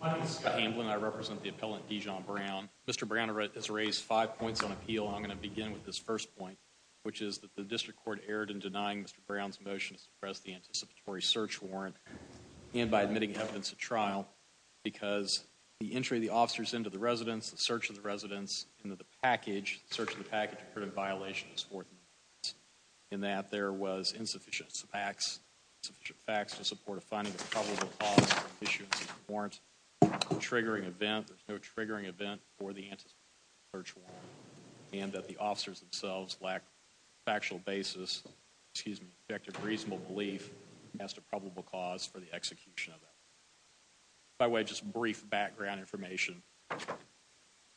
My name is Scott Hamblin. I represent the appellant Dijon Brown. Mr. Brown has raised five points on appeal. I'm going to begin with this first point, which is that the district court erred in denying Mr. Brown's motion to suppress the anticipatory search warrant and by admitting evidence of trial because the entry of the officers into the residence, the search of the residence, into the package, search of the package, occurred in violation of his fourth amendment, in that there was insufficient facts, insufficient facts to support a finding of probable cause for the issuance of the warrant, triggering event, there's no triggering event for the anticipatory search warrant, and that the officers themselves lack factual basis, excuse me, objective reasonable belief as to probable cause for the execution of that. By the way, just brief background information.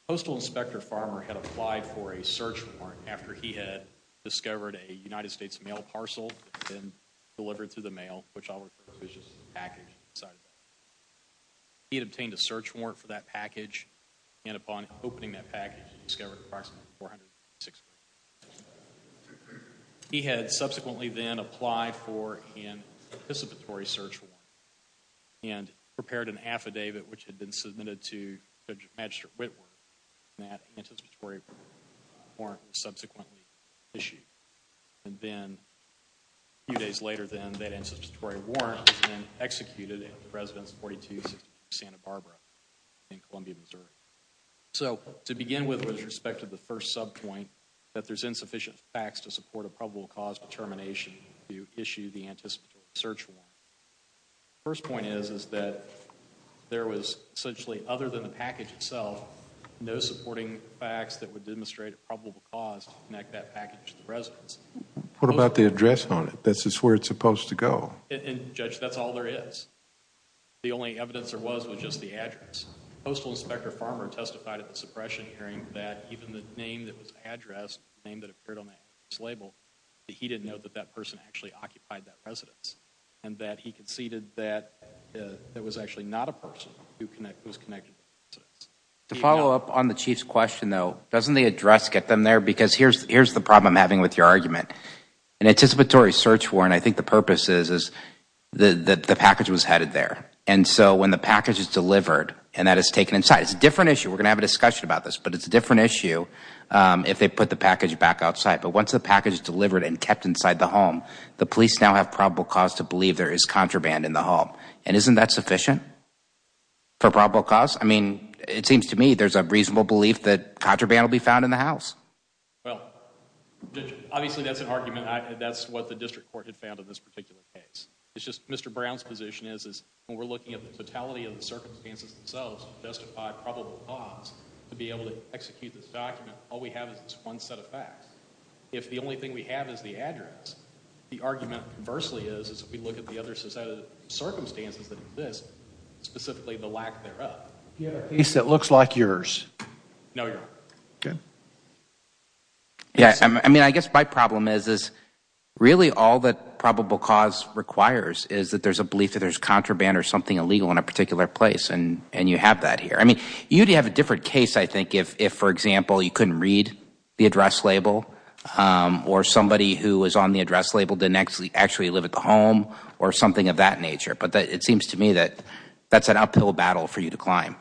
Postal Inspector Farmer had applied for a search warrant after he had discovered a United States mail parcel that had been delivered through the mail, which I'll refer to as just a package inside of it. He had obtained a search warrant for that package, and upon opening that package, discovered approximately 456 words. He had subsequently then applied for an anticipatory search warrant and prepared an anticipatory warrant subsequently issued, and then a few days later then that anticipatory warrant has been executed in the residence 4263 Santa Barbara in Columbia, Missouri. So to begin with with respect to the first sub point, that there's insufficient facts to support a probable cause determination to issue the anticipatory search warrant. First point is, is that there was essentially other than the package itself, no supporting facts that would demonstrate a probable cause to connect that package to the residence. What about the address on it? That's where it's supposed to go. And Judge, that's all there is. The only evidence there was was just the address. Postal Inspector Farmer testified at the suppression hearing that even the name that was addressed, the name that appeared on that label, that he didn't know that that person actually occupied that residence, and that he conceded that it was actually not a person who was connected. To follow up on the Chief's question though, doesn't the address get them there? Because here's the problem I'm having with your argument. An anticipatory search warrant, I think the purpose is that the package was headed there, and so when the package is delivered and that is taken inside, it's a different issue. We're going to have a discussion about this, but it's a different issue if they put the package back outside. But once the package is delivered and kept inside the police now have probable cause to believe there is contraband in the home. And isn't that sufficient for probable cause? I mean, it seems to me there's a reasonable belief that contraband will be found in the house. Well, Judge, obviously that's an argument. That's what the district court had found in this particular case. It's just Mr. Brown's position is when we're looking at the totality of the circumstances themselves to justify probable cause to be able to execute this document, all we have is this one set of facts. If the only thing we have is the address, the argument conversely is if we look at the other circumstances that exist, specifically the lack thereof. You have a case that looks like yours. No, Your Honor. Okay. Yeah, I mean, I guess my problem is really all that probable cause requires is that there's a belief that there's contraband or something illegal in a particular place, and you have that if, for example, you couldn't read the address label or somebody who was on the address label didn't actually live at the home or something of that nature. But it seems to me that that's an uphill battle for you to climb.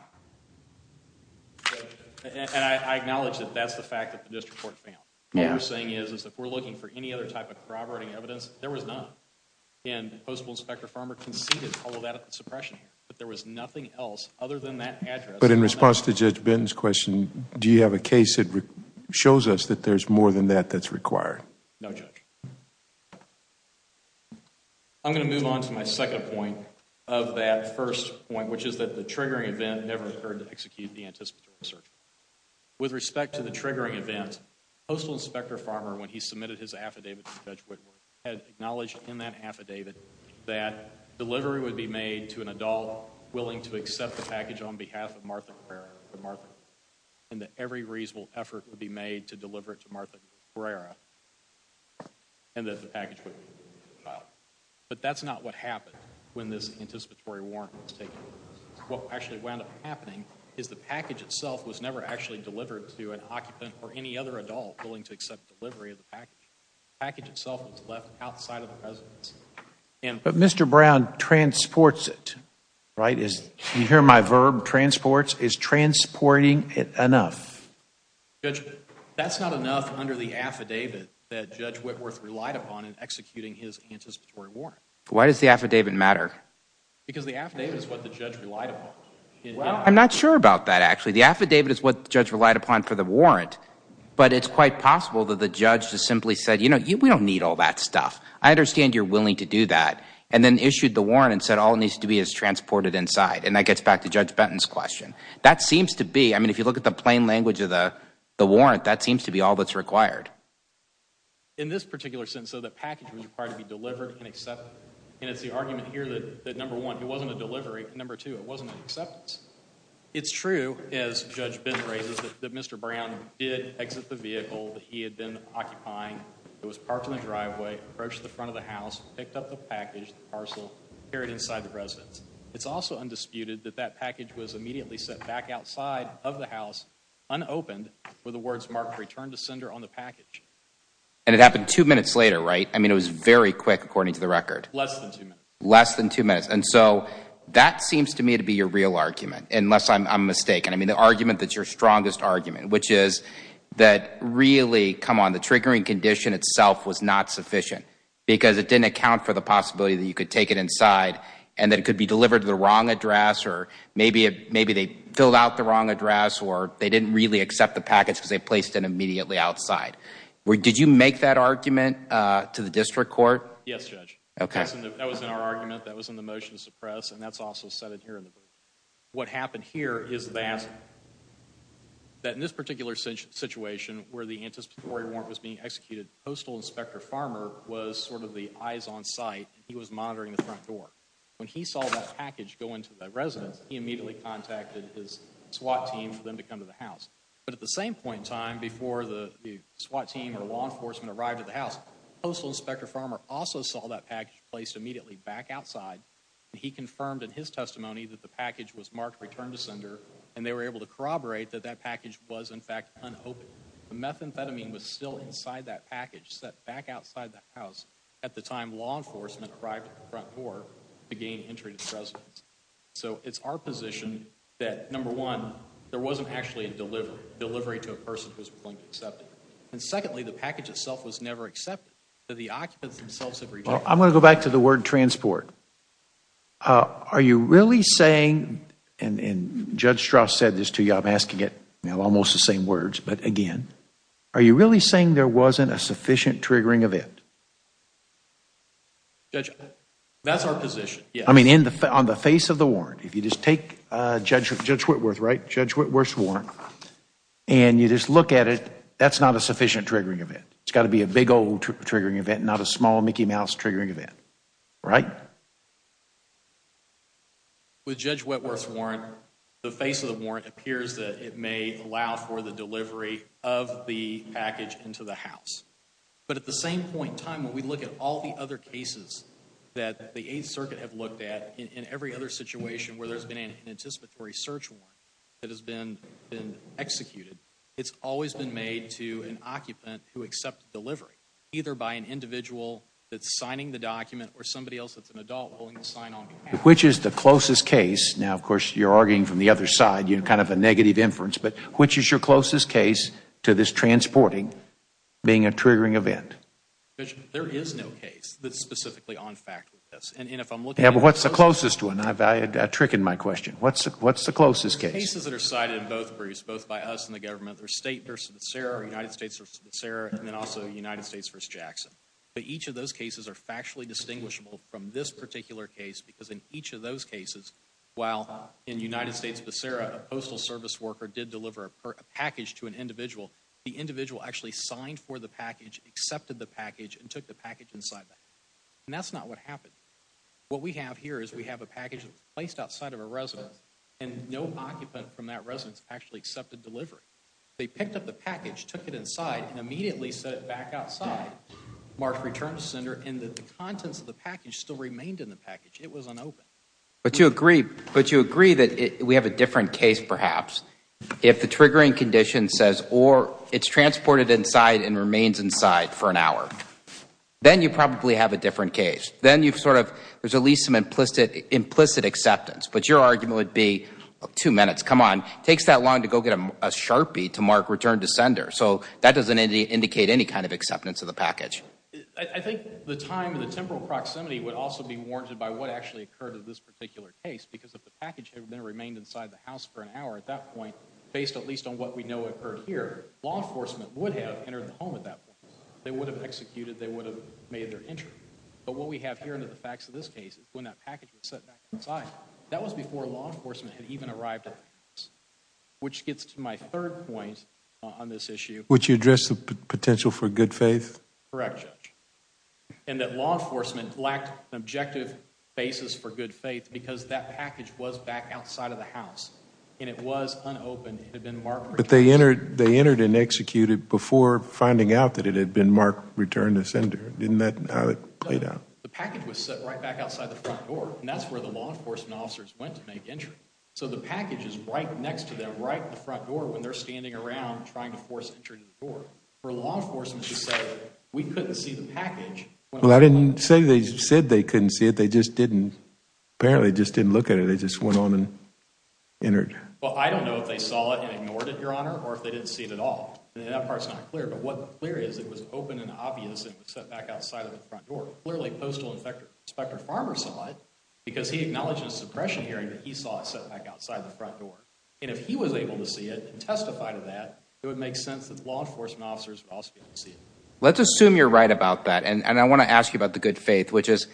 And I acknowledge that that's the fact that the district court found. What we're saying is if we're looking for any other type of corroborating evidence, there was none. And Postal Inspector Farmer conceded all of that suppression, but there was nothing else other than that address. But in response to Judge Benton's question, do you have a case that shows us that there's more than that that's required? No, Judge. I'm going to move on to my second point of that first point, which is that the triggering event never occurred to execute the anticipatory search. With respect to the triggering event, Postal Inspector Farmer, when he submitted his affidavit to Judge Whitworth, had acknowledged in that affidavit that delivery would be made to an adult willing to accept the package on behalf of Martha Guerrero, and that every reasonable effort would be made to deliver it to Martha Guerrero and that the package would be filed. But that's not what happened when this anticipatory warrant was taken. What actually wound up happening is the package itself was never actually delivered to an occupant or any other adult willing to accept delivery of presents. But Mr. Brown transports it, right? You hear my verb, transports. Is transporting it enough? That's not enough under the affidavit that Judge Whitworth relied upon in executing his anticipatory warrant. Why does the affidavit matter? Because the affidavit is what the judge relied upon. Well, I'm not sure about that actually. The affidavit is what the judge relied upon for the warrant, but it's quite possible that the judge just simply said, you know, we don't need all that stuff. I understand you're willing to do that, and then issued the warrant and said all it needs to be is transported inside. And that gets back to Judge Benton's question. That seems to be, I mean, if you look at the plain language of the warrant, that seems to be all that's required. In this particular sentence, so the package was required to be delivered and accepted. And it's the argument here that number one, it wasn't a delivery, and number two, it wasn't an acceptance. It's true, as Judge Benton raises, that Mr. Brown did exit the vehicle that he had been occupying. He was parked in the driveway, approached the front of the house, picked up the package, the parcel, and carried it inside the residence. It's also undisputed that that package was immediately set back outside of the house, unopened, with the words marked return to sender on the package. And it happened two minutes later, right? I mean, it was very quick, according to the record. Less than two minutes. Less than two minutes. And so that seems to me to be your real argument, unless I'm mistaken. I mean, the argument that's your strongest argument, which is that really, come on, the triggering condition itself was not sufficient because it didn't account for the possibility that you could take it inside and that it could be delivered to the wrong address or maybe they filled out the wrong address or they didn't really accept the package because they placed it immediately outside. Did you make that argument to the district court? Yes, Judge. That was in our argument. That was in the motion to suppress. And that's also said in here in the brief. What happened here is that in this particular situation where the anticipatory warrant was being executed, Postal Inspector Farmer was sort of the eyes on site. He was monitoring the front door. When he saw that package go into the residence, he immediately contacted his SWAT team for them to come to the house. But at the same point in time, before the SWAT team or law enforcement arrived at the house, Postal Inspector Farmer also saw that package placed immediately back outside and he confirmed in his testimony that the package was marked return to sender and they were able to corroborate that that package was in fact unopened. The methamphetamine was still inside that package set back outside the house at the time law enforcement arrived at the front door to gain entry to the residence. So it's our position that, number one, there wasn't actually a delivery to a person who had been arrested. I'm going to go back to the word transport. Are you really saying, and Judge Strauss said this to you, I'm asking it almost the same words, but again, are you really saying there wasn't a sufficient triggering event? That's our position, yes. I mean on the face of the warrant, if you just take Judge Whitworth's warrant and you just look at it, that's not a sufficient triggering event. It's got to be a big old triggering event, not a small Mickey Mouse triggering event, right? With Judge Whitworth's warrant, the face of the warrant appears that it may allow for the delivery of the package into the house. But at the same point in time, when we look at all the other cases that the Eighth Circuit have looked at, in every other situation where there's been an anticipatory search warrant that has been executed, it's always been made to an occupant who accepted delivery, either by an individual that's signing the document or somebody else that's an adult willing to sign on behalf. Which is the closest case, now of course you're arguing from the other side, you're kind of a negative inference, but which is your closest case to this transporting being a triggering event? There is no case that's specifically on fact with this. What's the closest one? I tricked my question. What's the closest case? The cases that are cited in both briefs, both by us and the government, there's State v. Becerra, United States v. Becerra, and then also United States v. Jackson. But each of those cases are factually distinguishable from this particular case, because in each of those cases, while in United States Becerra, a postal service worker did deliver a package to an individual, the individual actually signed for the package, accepted the package, and took the package inside that. And that's not what happened. What we have here is we have a package that was placed outside of a residence, and no occupant from that residence actually accepted delivery. They picked up the package, took it inside, and immediately set it back outside. Mark returned to the center, and the contents of the package still remained in the package. It was unopened. But you agree that we have a different case, perhaps, if the triggering condition says, or it's transported inside and remains inside for an hour. Then you probably have a different case. Then you've sort of, there's at least some implicit acceptance. But your argument would be, two minutes, come on, it takes that long to go get a sharpie to mark return to sender. So that doesn't indicate any kind of acceptance of the package. I think the time and the temporal proximity would also be warranted by what actually occurred in this particular case. Because if the package had remained inside the house for an hour at that point, based at least on what we know occurred here, law enforcement would have entered the home at that point. They would have executed, they would have made their entry. But what we have here in the facts of this case is when that package was set back inside. That was before law enforcement had even arrived at the house. Which gets to my third point on this issue. Would you address the potential for good faith? Correct, Judge. And that law enforcement lacked an objective basis for good faith because that package was back outside of the house. And it was unopened. They entered and executed before finding out that it had been marked return to sender. Didn't that how it played out? The package was set right back outside the front door. And that's where the law enforcement officers went to make entry. So the package is right next to them right in the front door when they're standing around trying to force entry to the door. For law enforcement to say we couldn't see the package. Well, I didn't say they said they couldn't see it. They just didn't, apparently just didn't look at it. They just went on and entered. Well, I don't know if they saw it and ignored it, Your Honor. Or if they didn't see it at all. That part's not clear. But what's clear is it was open and obvious. It was set back outside of the front door. Clearly, Postal Inspector Farmer saw it. Because he acknowledged in a suppression hearing that he saw it set back outside the front door. And if he was able to see it and testify to that, it would make sense that the law enforcement officers would also be able to see it. Let's assume you're right about that. And I want to ask you about the good faith, which is,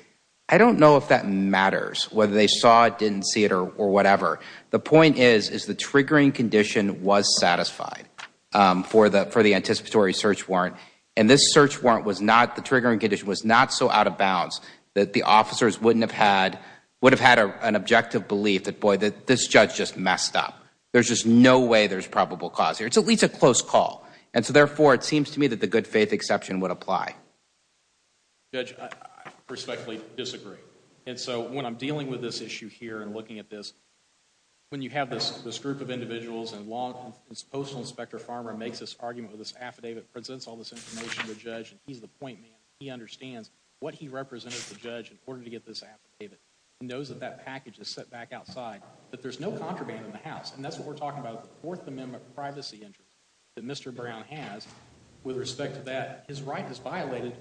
I don't know if that matters. Whether they saw it, didn't see it, or whatever. The point is, is the triggering condition was satisfied for the anticipatory search warrant. And this search warrant was not, the triggering condition was not so out of bounds that the officers wouldn't have had, would have had an objective belief that, boy, this judge just messed up. There's just no way there's probable cause here. It's at least a close call. And so, therefore, it seems to me that the good faith exception would apply. Judge, I respectfully disagree. And so, when I'm dealing with this issue here and looking at this, when you have this group of individuals and Postal Inspector Farmer makes this argument with this affidavit, presents all this information to the judge, and he's the point man, he understands what he represented to the judge in order to get this affidavit. He knows that that package is set back outside, that there's no contraband in the house. And that's what we're talking about with the Fourth Amendment privacy interest that Mr. Brown has with respect to that. His right is violated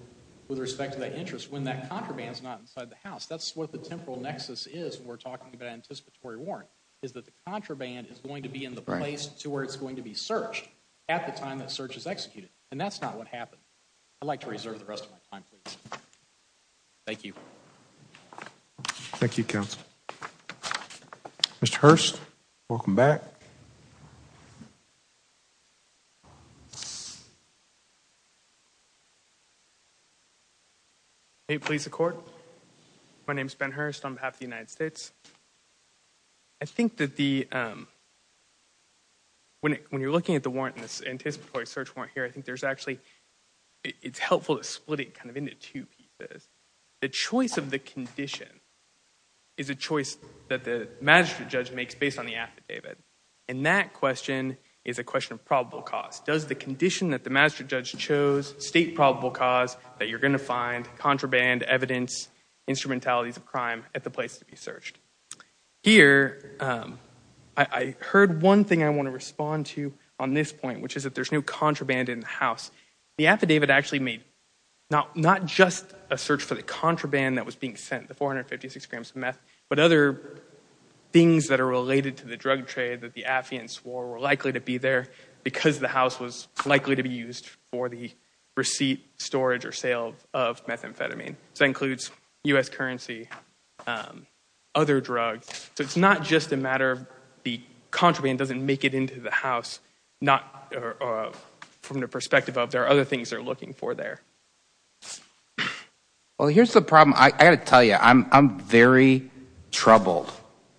with respect to that interest when that contraband is not inside the house. That's what the temporal nexus is when we're talking about anticipatory warrant, is that the contraband is going to be in the place to where it's going to be searched at the time that search is executed. And that's not what happened. I'd like to reserve the rest of my time, please. Thank you. Thank you, counsel. Mr. Hurst, welcome back. Hey, police and court. My name is Ben Hurst on behalf of the United States. I think that the, when you're looking at the warrant, this anticipatory search warrant here, I think there's actually, it's helpful to split it kind of into two pieces. The choice of the condition is a choice that the magistrate judge makes based on the affidavit. And that question is a question of probable cause. Does the condition that the magistrate judge chose state probable cause that you're going to find contraband, evidence, instrumentalities of crime at the place to be searched? Here, I heard one thing I want to respond to on this point, which is that there's no contraband in the house. The affidavit actually made not just a search for the contraband that was being sent, the 456 grams of meth, but other things that are related to the drug trade that the affiant swore were likely to be there because the house was likely to be used for the receipt, storage, or sale of methamphetamine. So that includes U.S. currency, other drugs. So it's not just a matter of the contraband doesn't make it into the house, not from the perspective of there are other things they're looking for there. Well, here's the problem. I got to tell you, I'm very troubled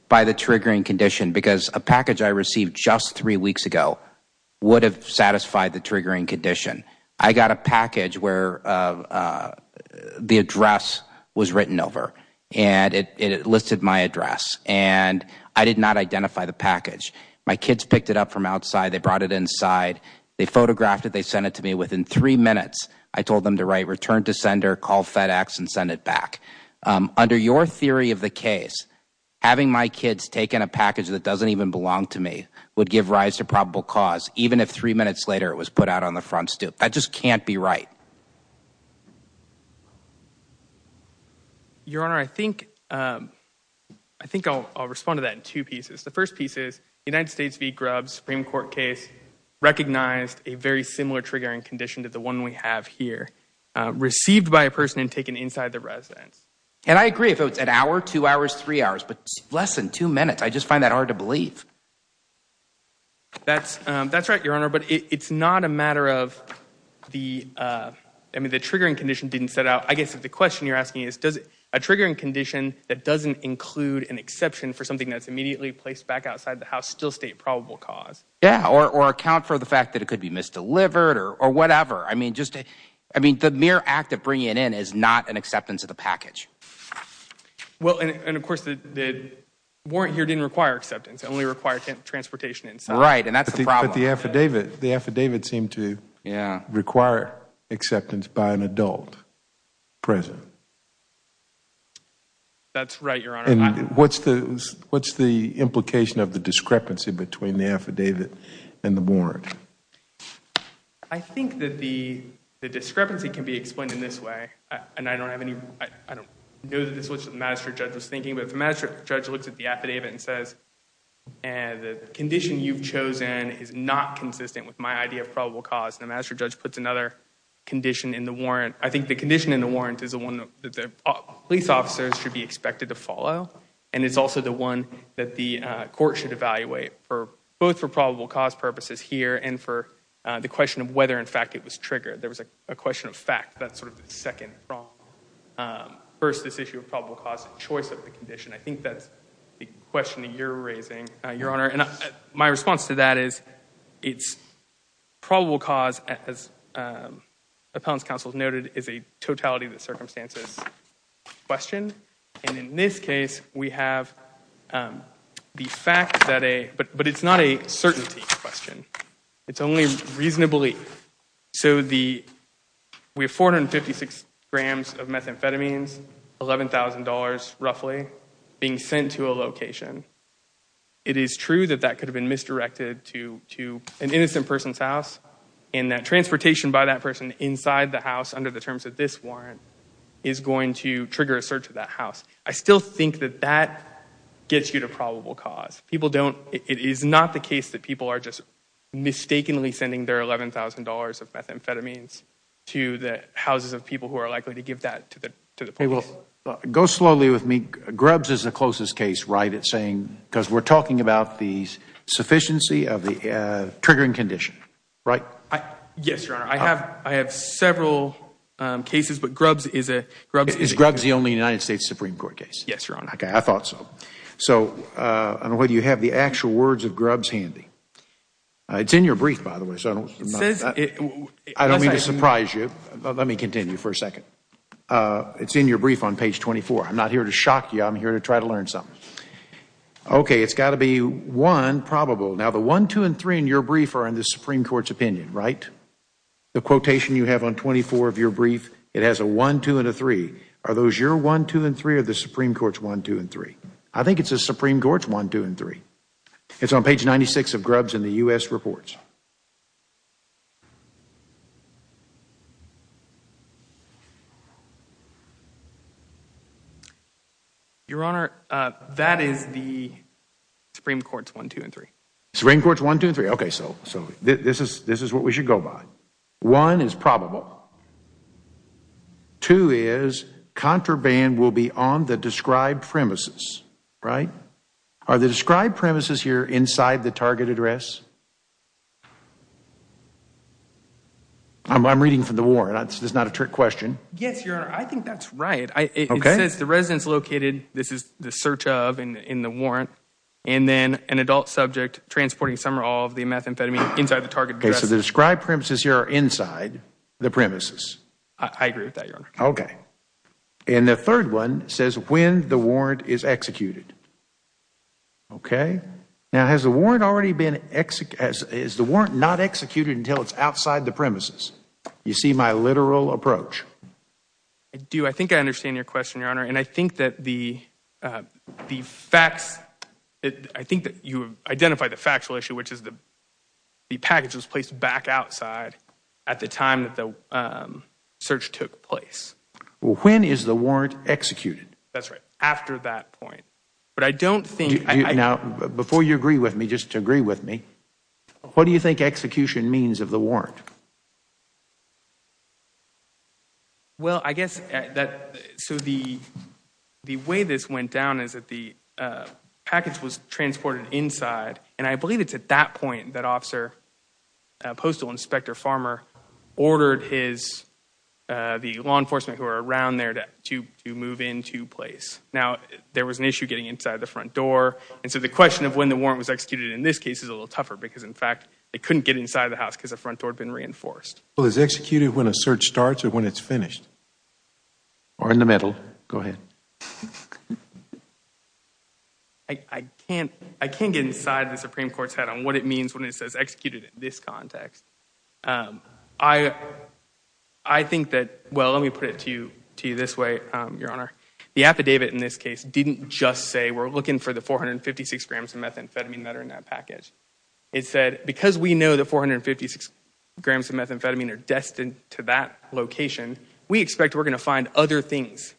by the triggering condition because a package I received just three weeks ago would have satisfied the triggering condition. I got a package where the address was written over, and it listed my address, and I did not identify the package. My kids picked it up from outside, they brought it inside, they photographed it, they sent it to me. Within three minutes, I told them to write, return to sender, call FedEx, and send it back. Under your theory of the case, having my kids take in a package that doesn't even belong to me would give rise to probable cause, even if three minutes later it was put out on the front stoop. That just can't be right. Your Honor, I think I'll respond to that in two pieces. The first piece is the United States v. Grubb Supreme Court case recognized a very similar triggering condition to the one we have here, received by a person and taken inside the residence. And I agree if it was an hour, two hours, three hours, but less than two minutes, I just find that hard to believe. That's right, Your Honor, but it's not a matter of the, I mean, the triggering condition didn't set out. I guess if the question you're asking is, does a triggering condition that doesn't include an exception for something that's immediately placed back outside the house still state probable cause? Yeah, or account for the fact that it could be misdelivered or whatever. I mean, just, I mean, the mere act of bringing it in is not an acceptance of the package. Well, and of course, the warrant here didn't require acceptance. It only required transportation inside. Right, and that's the problem. But the affidavit, the affidavit seemed to require acceptance by an adult present. That's right, Your Honor. And what's the implication of the discrepancy between the affidavit and the warrant? I think that the discrepancy can be explained in this way, and I don't have any, I don't know that this is what the magistrate judge was thinking, but if the magistrate judge looks at the affidavit and says, the condition you've chosen is not consistent with my idea of probable cause, the magistrate judge puts another condition in the warrant. I think the condition in the warrant is the one that the police officers should be expected to follow, and it's also the one that the court should evaluate, both for probable cause purposes here and for the question of whether, in fact, it was triggered. There was a question of fact. That's sort of the second problem versus this issue of probable cause and choice of the condition. I think that's the question that you're raising, Your Honor. And my response to that is, it's probable cause, as appellant's counsel noted, is a totality of the circumstances question. And in this case, we have the fact that a, but it's not a certainty question. It's only reasonably, so the, we have 456 grams of methamphetamines, 11,000 dollars roughly, being sent to a location. It is true that that could have been misdirected to an innocent person's house, and that transportation by that person inside the house under the terms of this warrant is going to trigger a search of that house. I still think that that gets you to probable cause. People don't, it is not the case that people are just mistakenly sending their 11,000 dollars of methamphetamines to the houses of people who are likely to give that to the police. Go slowly with me. Grubbs is the closest case, right, at saying, because we're talking about the sufficiency of the triggering condition, right? Yes, Your Honor. I have several cases, but Grubbs is a, Grubbs is the only United States Supreme Court case. Yes, Your Honor. I thought so. So, I don't know whether you have the actual words of Grubbs handy. It's in your brief, by the way, so I don't mean to surprise you. Let me continue for a second. It's in your brief on page 24. I'm not here to shock you. I'm here to try to learn something. Okay, it's got to be one probable. Now, the one, two, and three in your brief are in the Supreme Court's opinion, right? The quotation you have on 24 of your brief, it has a one, two, and a three. Are those your one, two, and three or the Supreme Court's one, two, and three? I think it's the Supreme Court's one, two, and three. It's on page 96 of Grubbs in the U.S. reports. Your Honor, that is the Supreme Court's one, two, and three. Supreme Court's one, two, and three. Okay, so this is what we should go by. One is probable. Two is contraband will be on the described premises, right? Are the described premises here inside the target address? I'm reading from the warrant. This is not a trick question. Yes, Your Honor. I think that's right. Okay. It says the residence located, this is the search of in the warrant, and then an adult subject transporting some or all of the methamphetamine inside the target address. Okay, so the described premises here are inside the premises. I agree with that, Your Honor. Okay. And the third one says when the warrant is executed. Okay. Now, has the warrant not executed until it's outside the premises? You see my literal approach. I do. I think I understand your question, Your Honor. And I think that the facts, I think that you identified the factual issue, which is the package was placed back outside at the time that the search took place. Well, when is the warrant executed? That's right. After that point. But I don't think... Now, before you agree with me, just agree with me. What do you think execution means of the warrant? Well, I guess that, so the way this went down is that the package was transported inside. And I believe it's at that point that officer, postal inspector Farmer, ordered his, the law enforcement who are around there to move into place. Now, there was an issue getting inside the front door. And so the question of when the warrant was executed in this case is a little tougher, because in fact, they couldn't get inside the house because the front door had been reinforced. Well, is it executed when a search starts or when it's finished? Or in the middle. Go ahead. I can't get inside the Supreme Court's head on what it means when it says executed in this context. I think that, well, let me put it to you this way, Your Honor. The affidavit in this case didn't just say we're looking for the 456 grams of methamphetamine that are in that package. It said because we know the 456 grams of methamphetamine are destined to that location, we expect we're going to find other things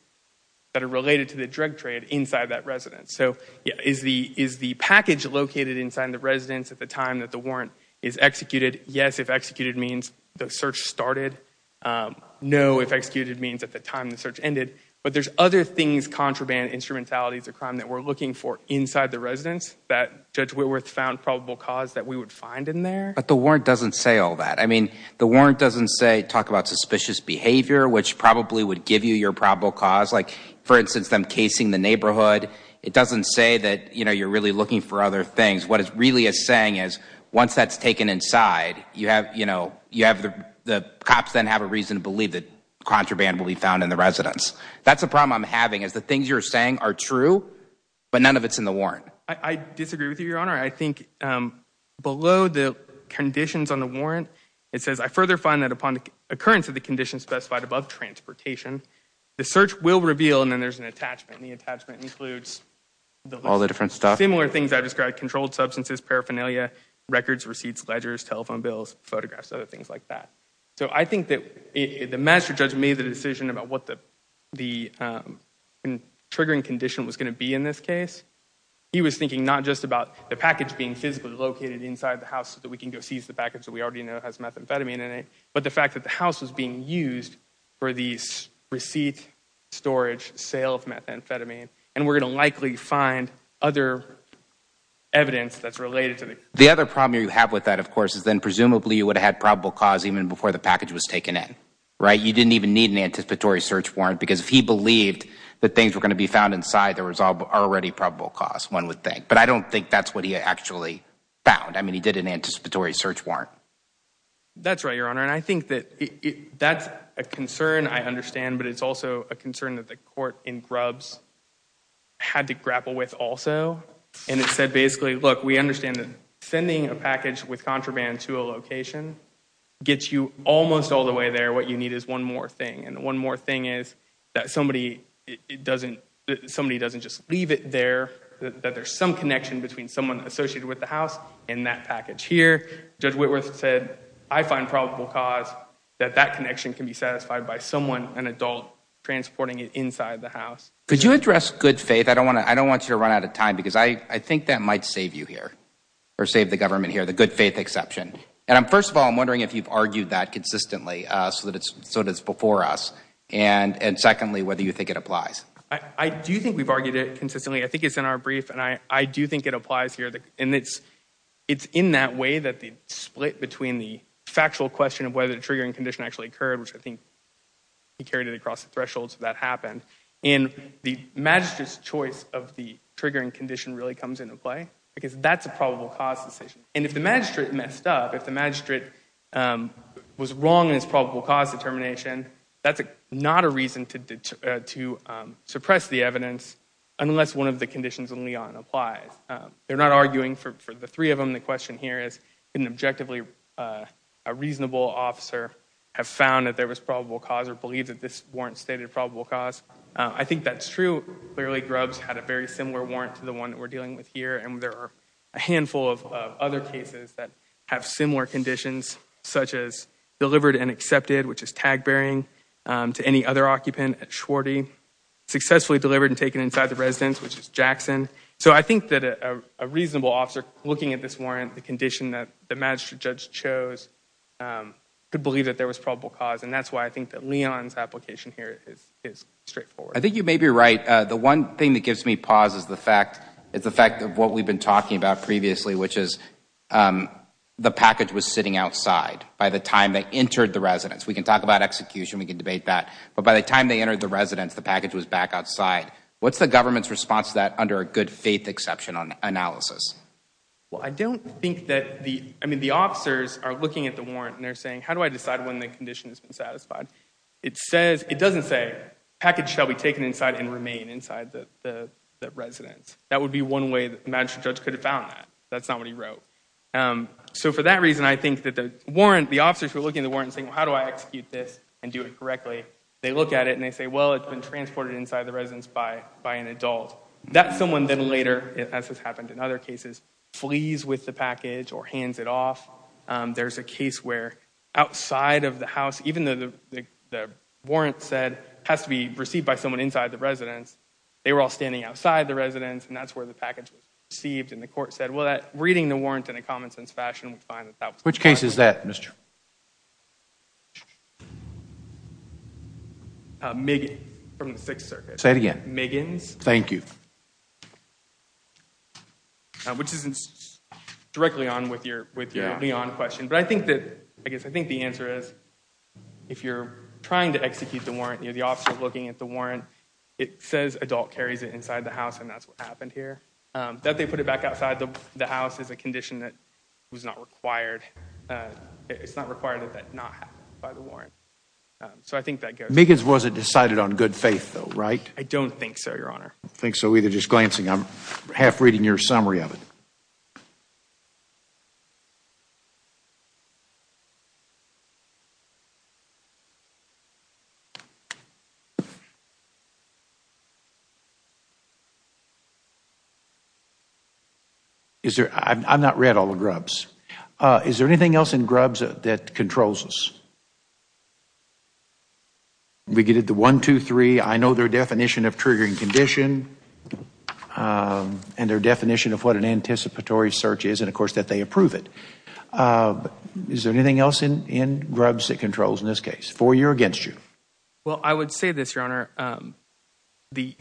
that are related to the drug trade inside that residence. So is the package located inside the residence at the time that the warrant is executed? Yes, if executed means the search started. No, if executed means at the time the search ended. But there's other things, contraband, instrumentalities of crime that we're looking for that we would find in there. But the warrant doesn't say all that. I mean, the warrant doesn't say talk about suspicious behavior, which probably would give you your probable cause. Like, for instance, them casing the neighborhood. It doesn't say that, you know, you're really looking for other things. What it really is saying is once that's taken inside, you have, you know, you have the cops then have a reason to believe that contraband will be found in the residence. That's a problem I'm having is the things you're saying are true, but none of it's in the warrant. I disagree with you, Your Honor. I think below the conditions on the warrant, it says, I further find that upon occurrence of the condition specified above transportation, the search will reveal and then there's an attachment. The attachment includes all the different stuff, similar things I've described, controlled substances, paraphernalia, records, receipts, ledgers, telephone bills, photographs, other things like that. So I think that the master judge made the decision about what the triggering condition was going to be in this case. He was thinking not just about the package being physically located inside the house so that we can go seize the package that we already know has methamphetamine in it, but the fact that the house was being used for these receipts, storage, sale of methamphetamine, and we're going to likely find other evidence that's related to it. The other problem you have with that, of course, is then presumably you would have had probable cause even before the package was taken in, right? You didn't even need an anticipatory search warrant because if he believed that things were going to be found inside, there was already probable cause, one would think. But I don't think that's what he actually found. I mean, he did an anticipatory search warrant. That's right, Your Honor. And I think that that's a concern I understand, but it's also a concern that the court in Grubbs had to grapple with also. And it said basically, look, we understand that sending a package with contraband to a location gets you almost all the way there. What you need is one more thing. And the one more thing is that somebody doesn't just leave it there, that there's some connection between someone associated with the house and that package here. Judge Whitworth said, I find probable cause that that connection can be satisfied by someone, an adult, transporting it inside the house. Could you address good faith? I don't want you to run out of time because I think that might save you here or save the government here, the good faith exception. And first of all, I'm wondering if you've argued that consistently so that it's before us, and secondly, whether you think it applies. I do think we've argued it consistently. I think it's in our brief, and I do think it applies here. And it's in that way that the split between the factual question of whether the triggering condition actually occurred, which I think he carried it across the thresholds that happened, and the magistrate's choice of the triggering condition really comes into play, because that's a probable cause decision. And if the magistrate messed up, if the magistrate was wrong in his probable cause determination, that's not a reason to suppress the evidence unless one of the conditions in Leon applies. They're not arguing for the three of them. The question here is, could an objectively reasonable officer have found that there was probable cause or believe that this warrant stated probable cause? I think that's true. Clearly, Grubbs had a very similar warrant to the one that we're dealing with here, and there are a handful of other cases that have similar conditions, such as delivered and to any other occupant at Schwarte, successfully delivered and taken inside the residence, which is Jackson. So I think that a reasonable officer looking at this warrant, the condition that the magistrate judge chose, could believe that there was probable cause. And that's why I think that Leon's application here is straightforward. I think you may be right. The one thing that gives me pause is the fact of what we've been talking about previously, which is the package was sitting outside by the time they entered the residence. We can talk about execution. We can debate that. But by the time they entered the residence, the package was back outside. What's the government's response to that under a good faith exception analysis? Well, I don't think that the, I mean, the officers are looking at the warrant and they're saying, how do I decide when the condition has been satisfied? It says, it doesn't say package shall be taken inside and remain inside the residence. That would be one way the magistrate judge could have found that. That's not what he wrote. So for that reason, I think that the warrant, the officers were looking at the warrant and how do I execute this and do it correctly? They look at it and they say, well, it's been transported inside the residence by an adult. That's someone then later, as has happened in other cases, flees with the package or hands it off. There's a case where outside of the house, even though the warrant said has to be received by someone inside the residence, they were all standing outside the residence and that's where the package was received. And the court said, well, that reading the warrant in a common sense fashion would find that that was the case. Which case is that, Mr. Megan from the sixth circuit. Say it again. Megan's. Thank you. Which isn't directly on with your, with your question. But I think that, I guess, I think the answer is if you're trying to execute the warrant, the officer looking at the warrant, it says adult carries it inside the house and that's what happened here. That they put it back outside the house is a condition that was not required. It's not required that that not happen by the warrant. So I think that goes. Megan's wasn't decided on good faith though, right? I don't think so, your honor. I don't think so either. Just glancing. I'm half reading your summary of it. Is there, I'm not read all the grubs. Is there anything else in grubs that controls us? We get it. The one, two, three. I know their definition of triggering condition and their definition of what an anticipatory search is. And of course that they approve it. Is there anything else in grubs that controls in this case for you or against you? Well, I would say this, your honor. The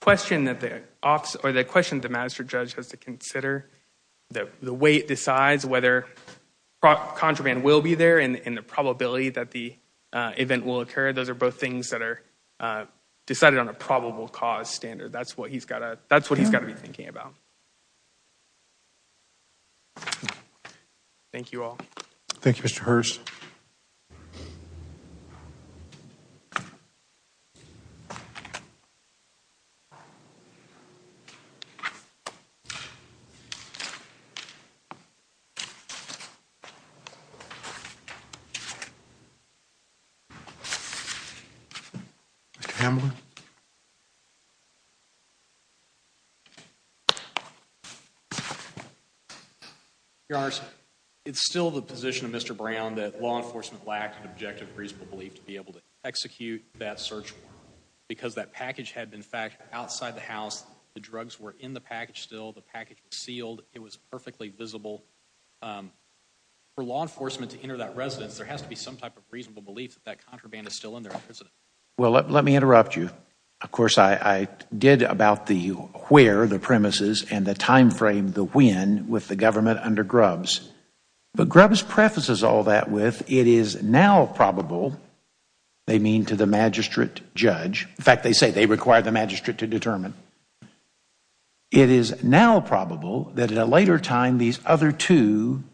question that the officer or the question, the master judge has to consider the way it decides whether contraband will be there and the probability that the event will occur. Those are both things that are decided on a probable cause standard. That's what he's got to, that's what he's got to be thinking about. Thank you all. Thank you, Mr. Hurst. Mr. Hamlin. Your honor, it's still the position of Mr. Brown that law enforcement lacked an objective reasonable belief to be able to execute that search because that package had been fact outside the house. The drugs were in the package. The package was sealed. It was perfectly visible. For law enforcement to enter that residence, there has to be some type of reasonable belief that that contraband is still in there. Well, let me interrupt you. Of course, I did about the where, the premises and the time frame, the when with the government under grubs. But grubs prefaces all that with it is now probable. They mean to the magistrate judge. In fact, they say they require the magistrate to determine. It is now probable that at a later time, these other two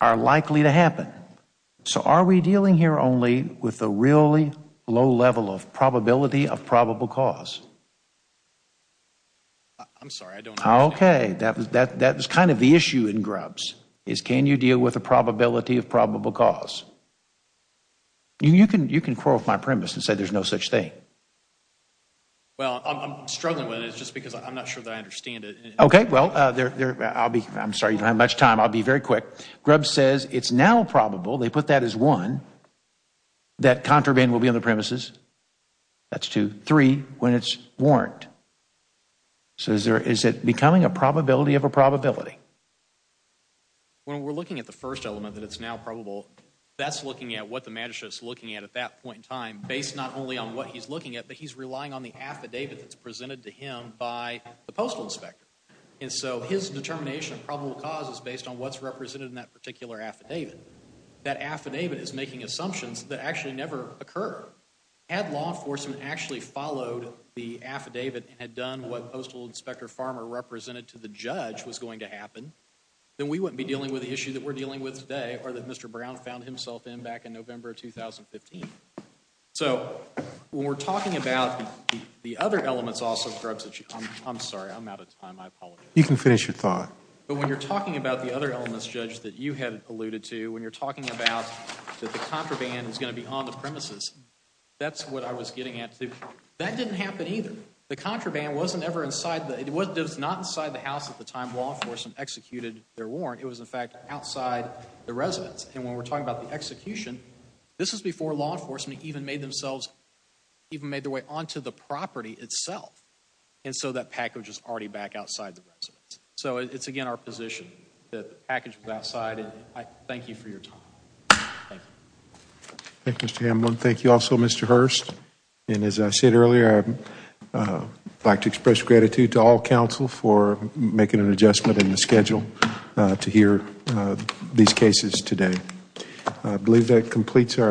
are likely to happen. So are we dealing here only with the really low level of probability of probable cause? I'm sorry, I don't know. Okay. That was that that was kind of the issue in grubs is can you deal with the probability of probable cause? You can you can quarrel with my premise and say there's no such thing. Well, I'm struggling with it just because I'm not sure that I understand it. Okay, well, there I'll be. I'm sorry you don't have much time. I'll be very quick. Grub says it's now probable. They put that as one. That contraband will be on the premises. That's two, three when it's warrant. So is there is it becoming a probability of a probability? When we're looking at the first element that it's now probable, that's looking at what the magistrate is looking at at that point in time, based not only on what he's looking at, but he's relying on the affidavit that's presented to him by the postal inspector. And so his determination of probable cause is based on what's represented in that particular affidavit. That affidavit is making assumptions that actually never occur. Had law enforcement actually followed the affidavit and had done what postal inspector Farmer represented to the judge was going to happen, then we wouldn't be dealing with the issue that we're dealing with today or that Mr. Brown found himself in back in November 2015. So when we're talking about the other elements also, I'm sorry, I'm out of time. I apologize. You can finish your thought. But when you're talking about the other elements, Judge, that you had alluded to, when you're talking about that the contraband is going to be on the premises, that's what I was getting at too. That didn't happen either. The contraband wasn't ever inside, it was not inside the house at the time law enforcement executed their warrant. It was, in fact, outside the residence. And when we're talking about the execution, this was before law enforcement even made themselves, even made their way onto the property itself. And so that package is already back outside the residence. So it's, again, our position that the package was outside. And I thank you for your time. Thank you, Mr. Hamlin. Thank you also, Mr. Hurst. And as I said earlier, I'd like to express gratitude to all counsel for making an adjustment in the schedule to hear these cases today. I believe that completes our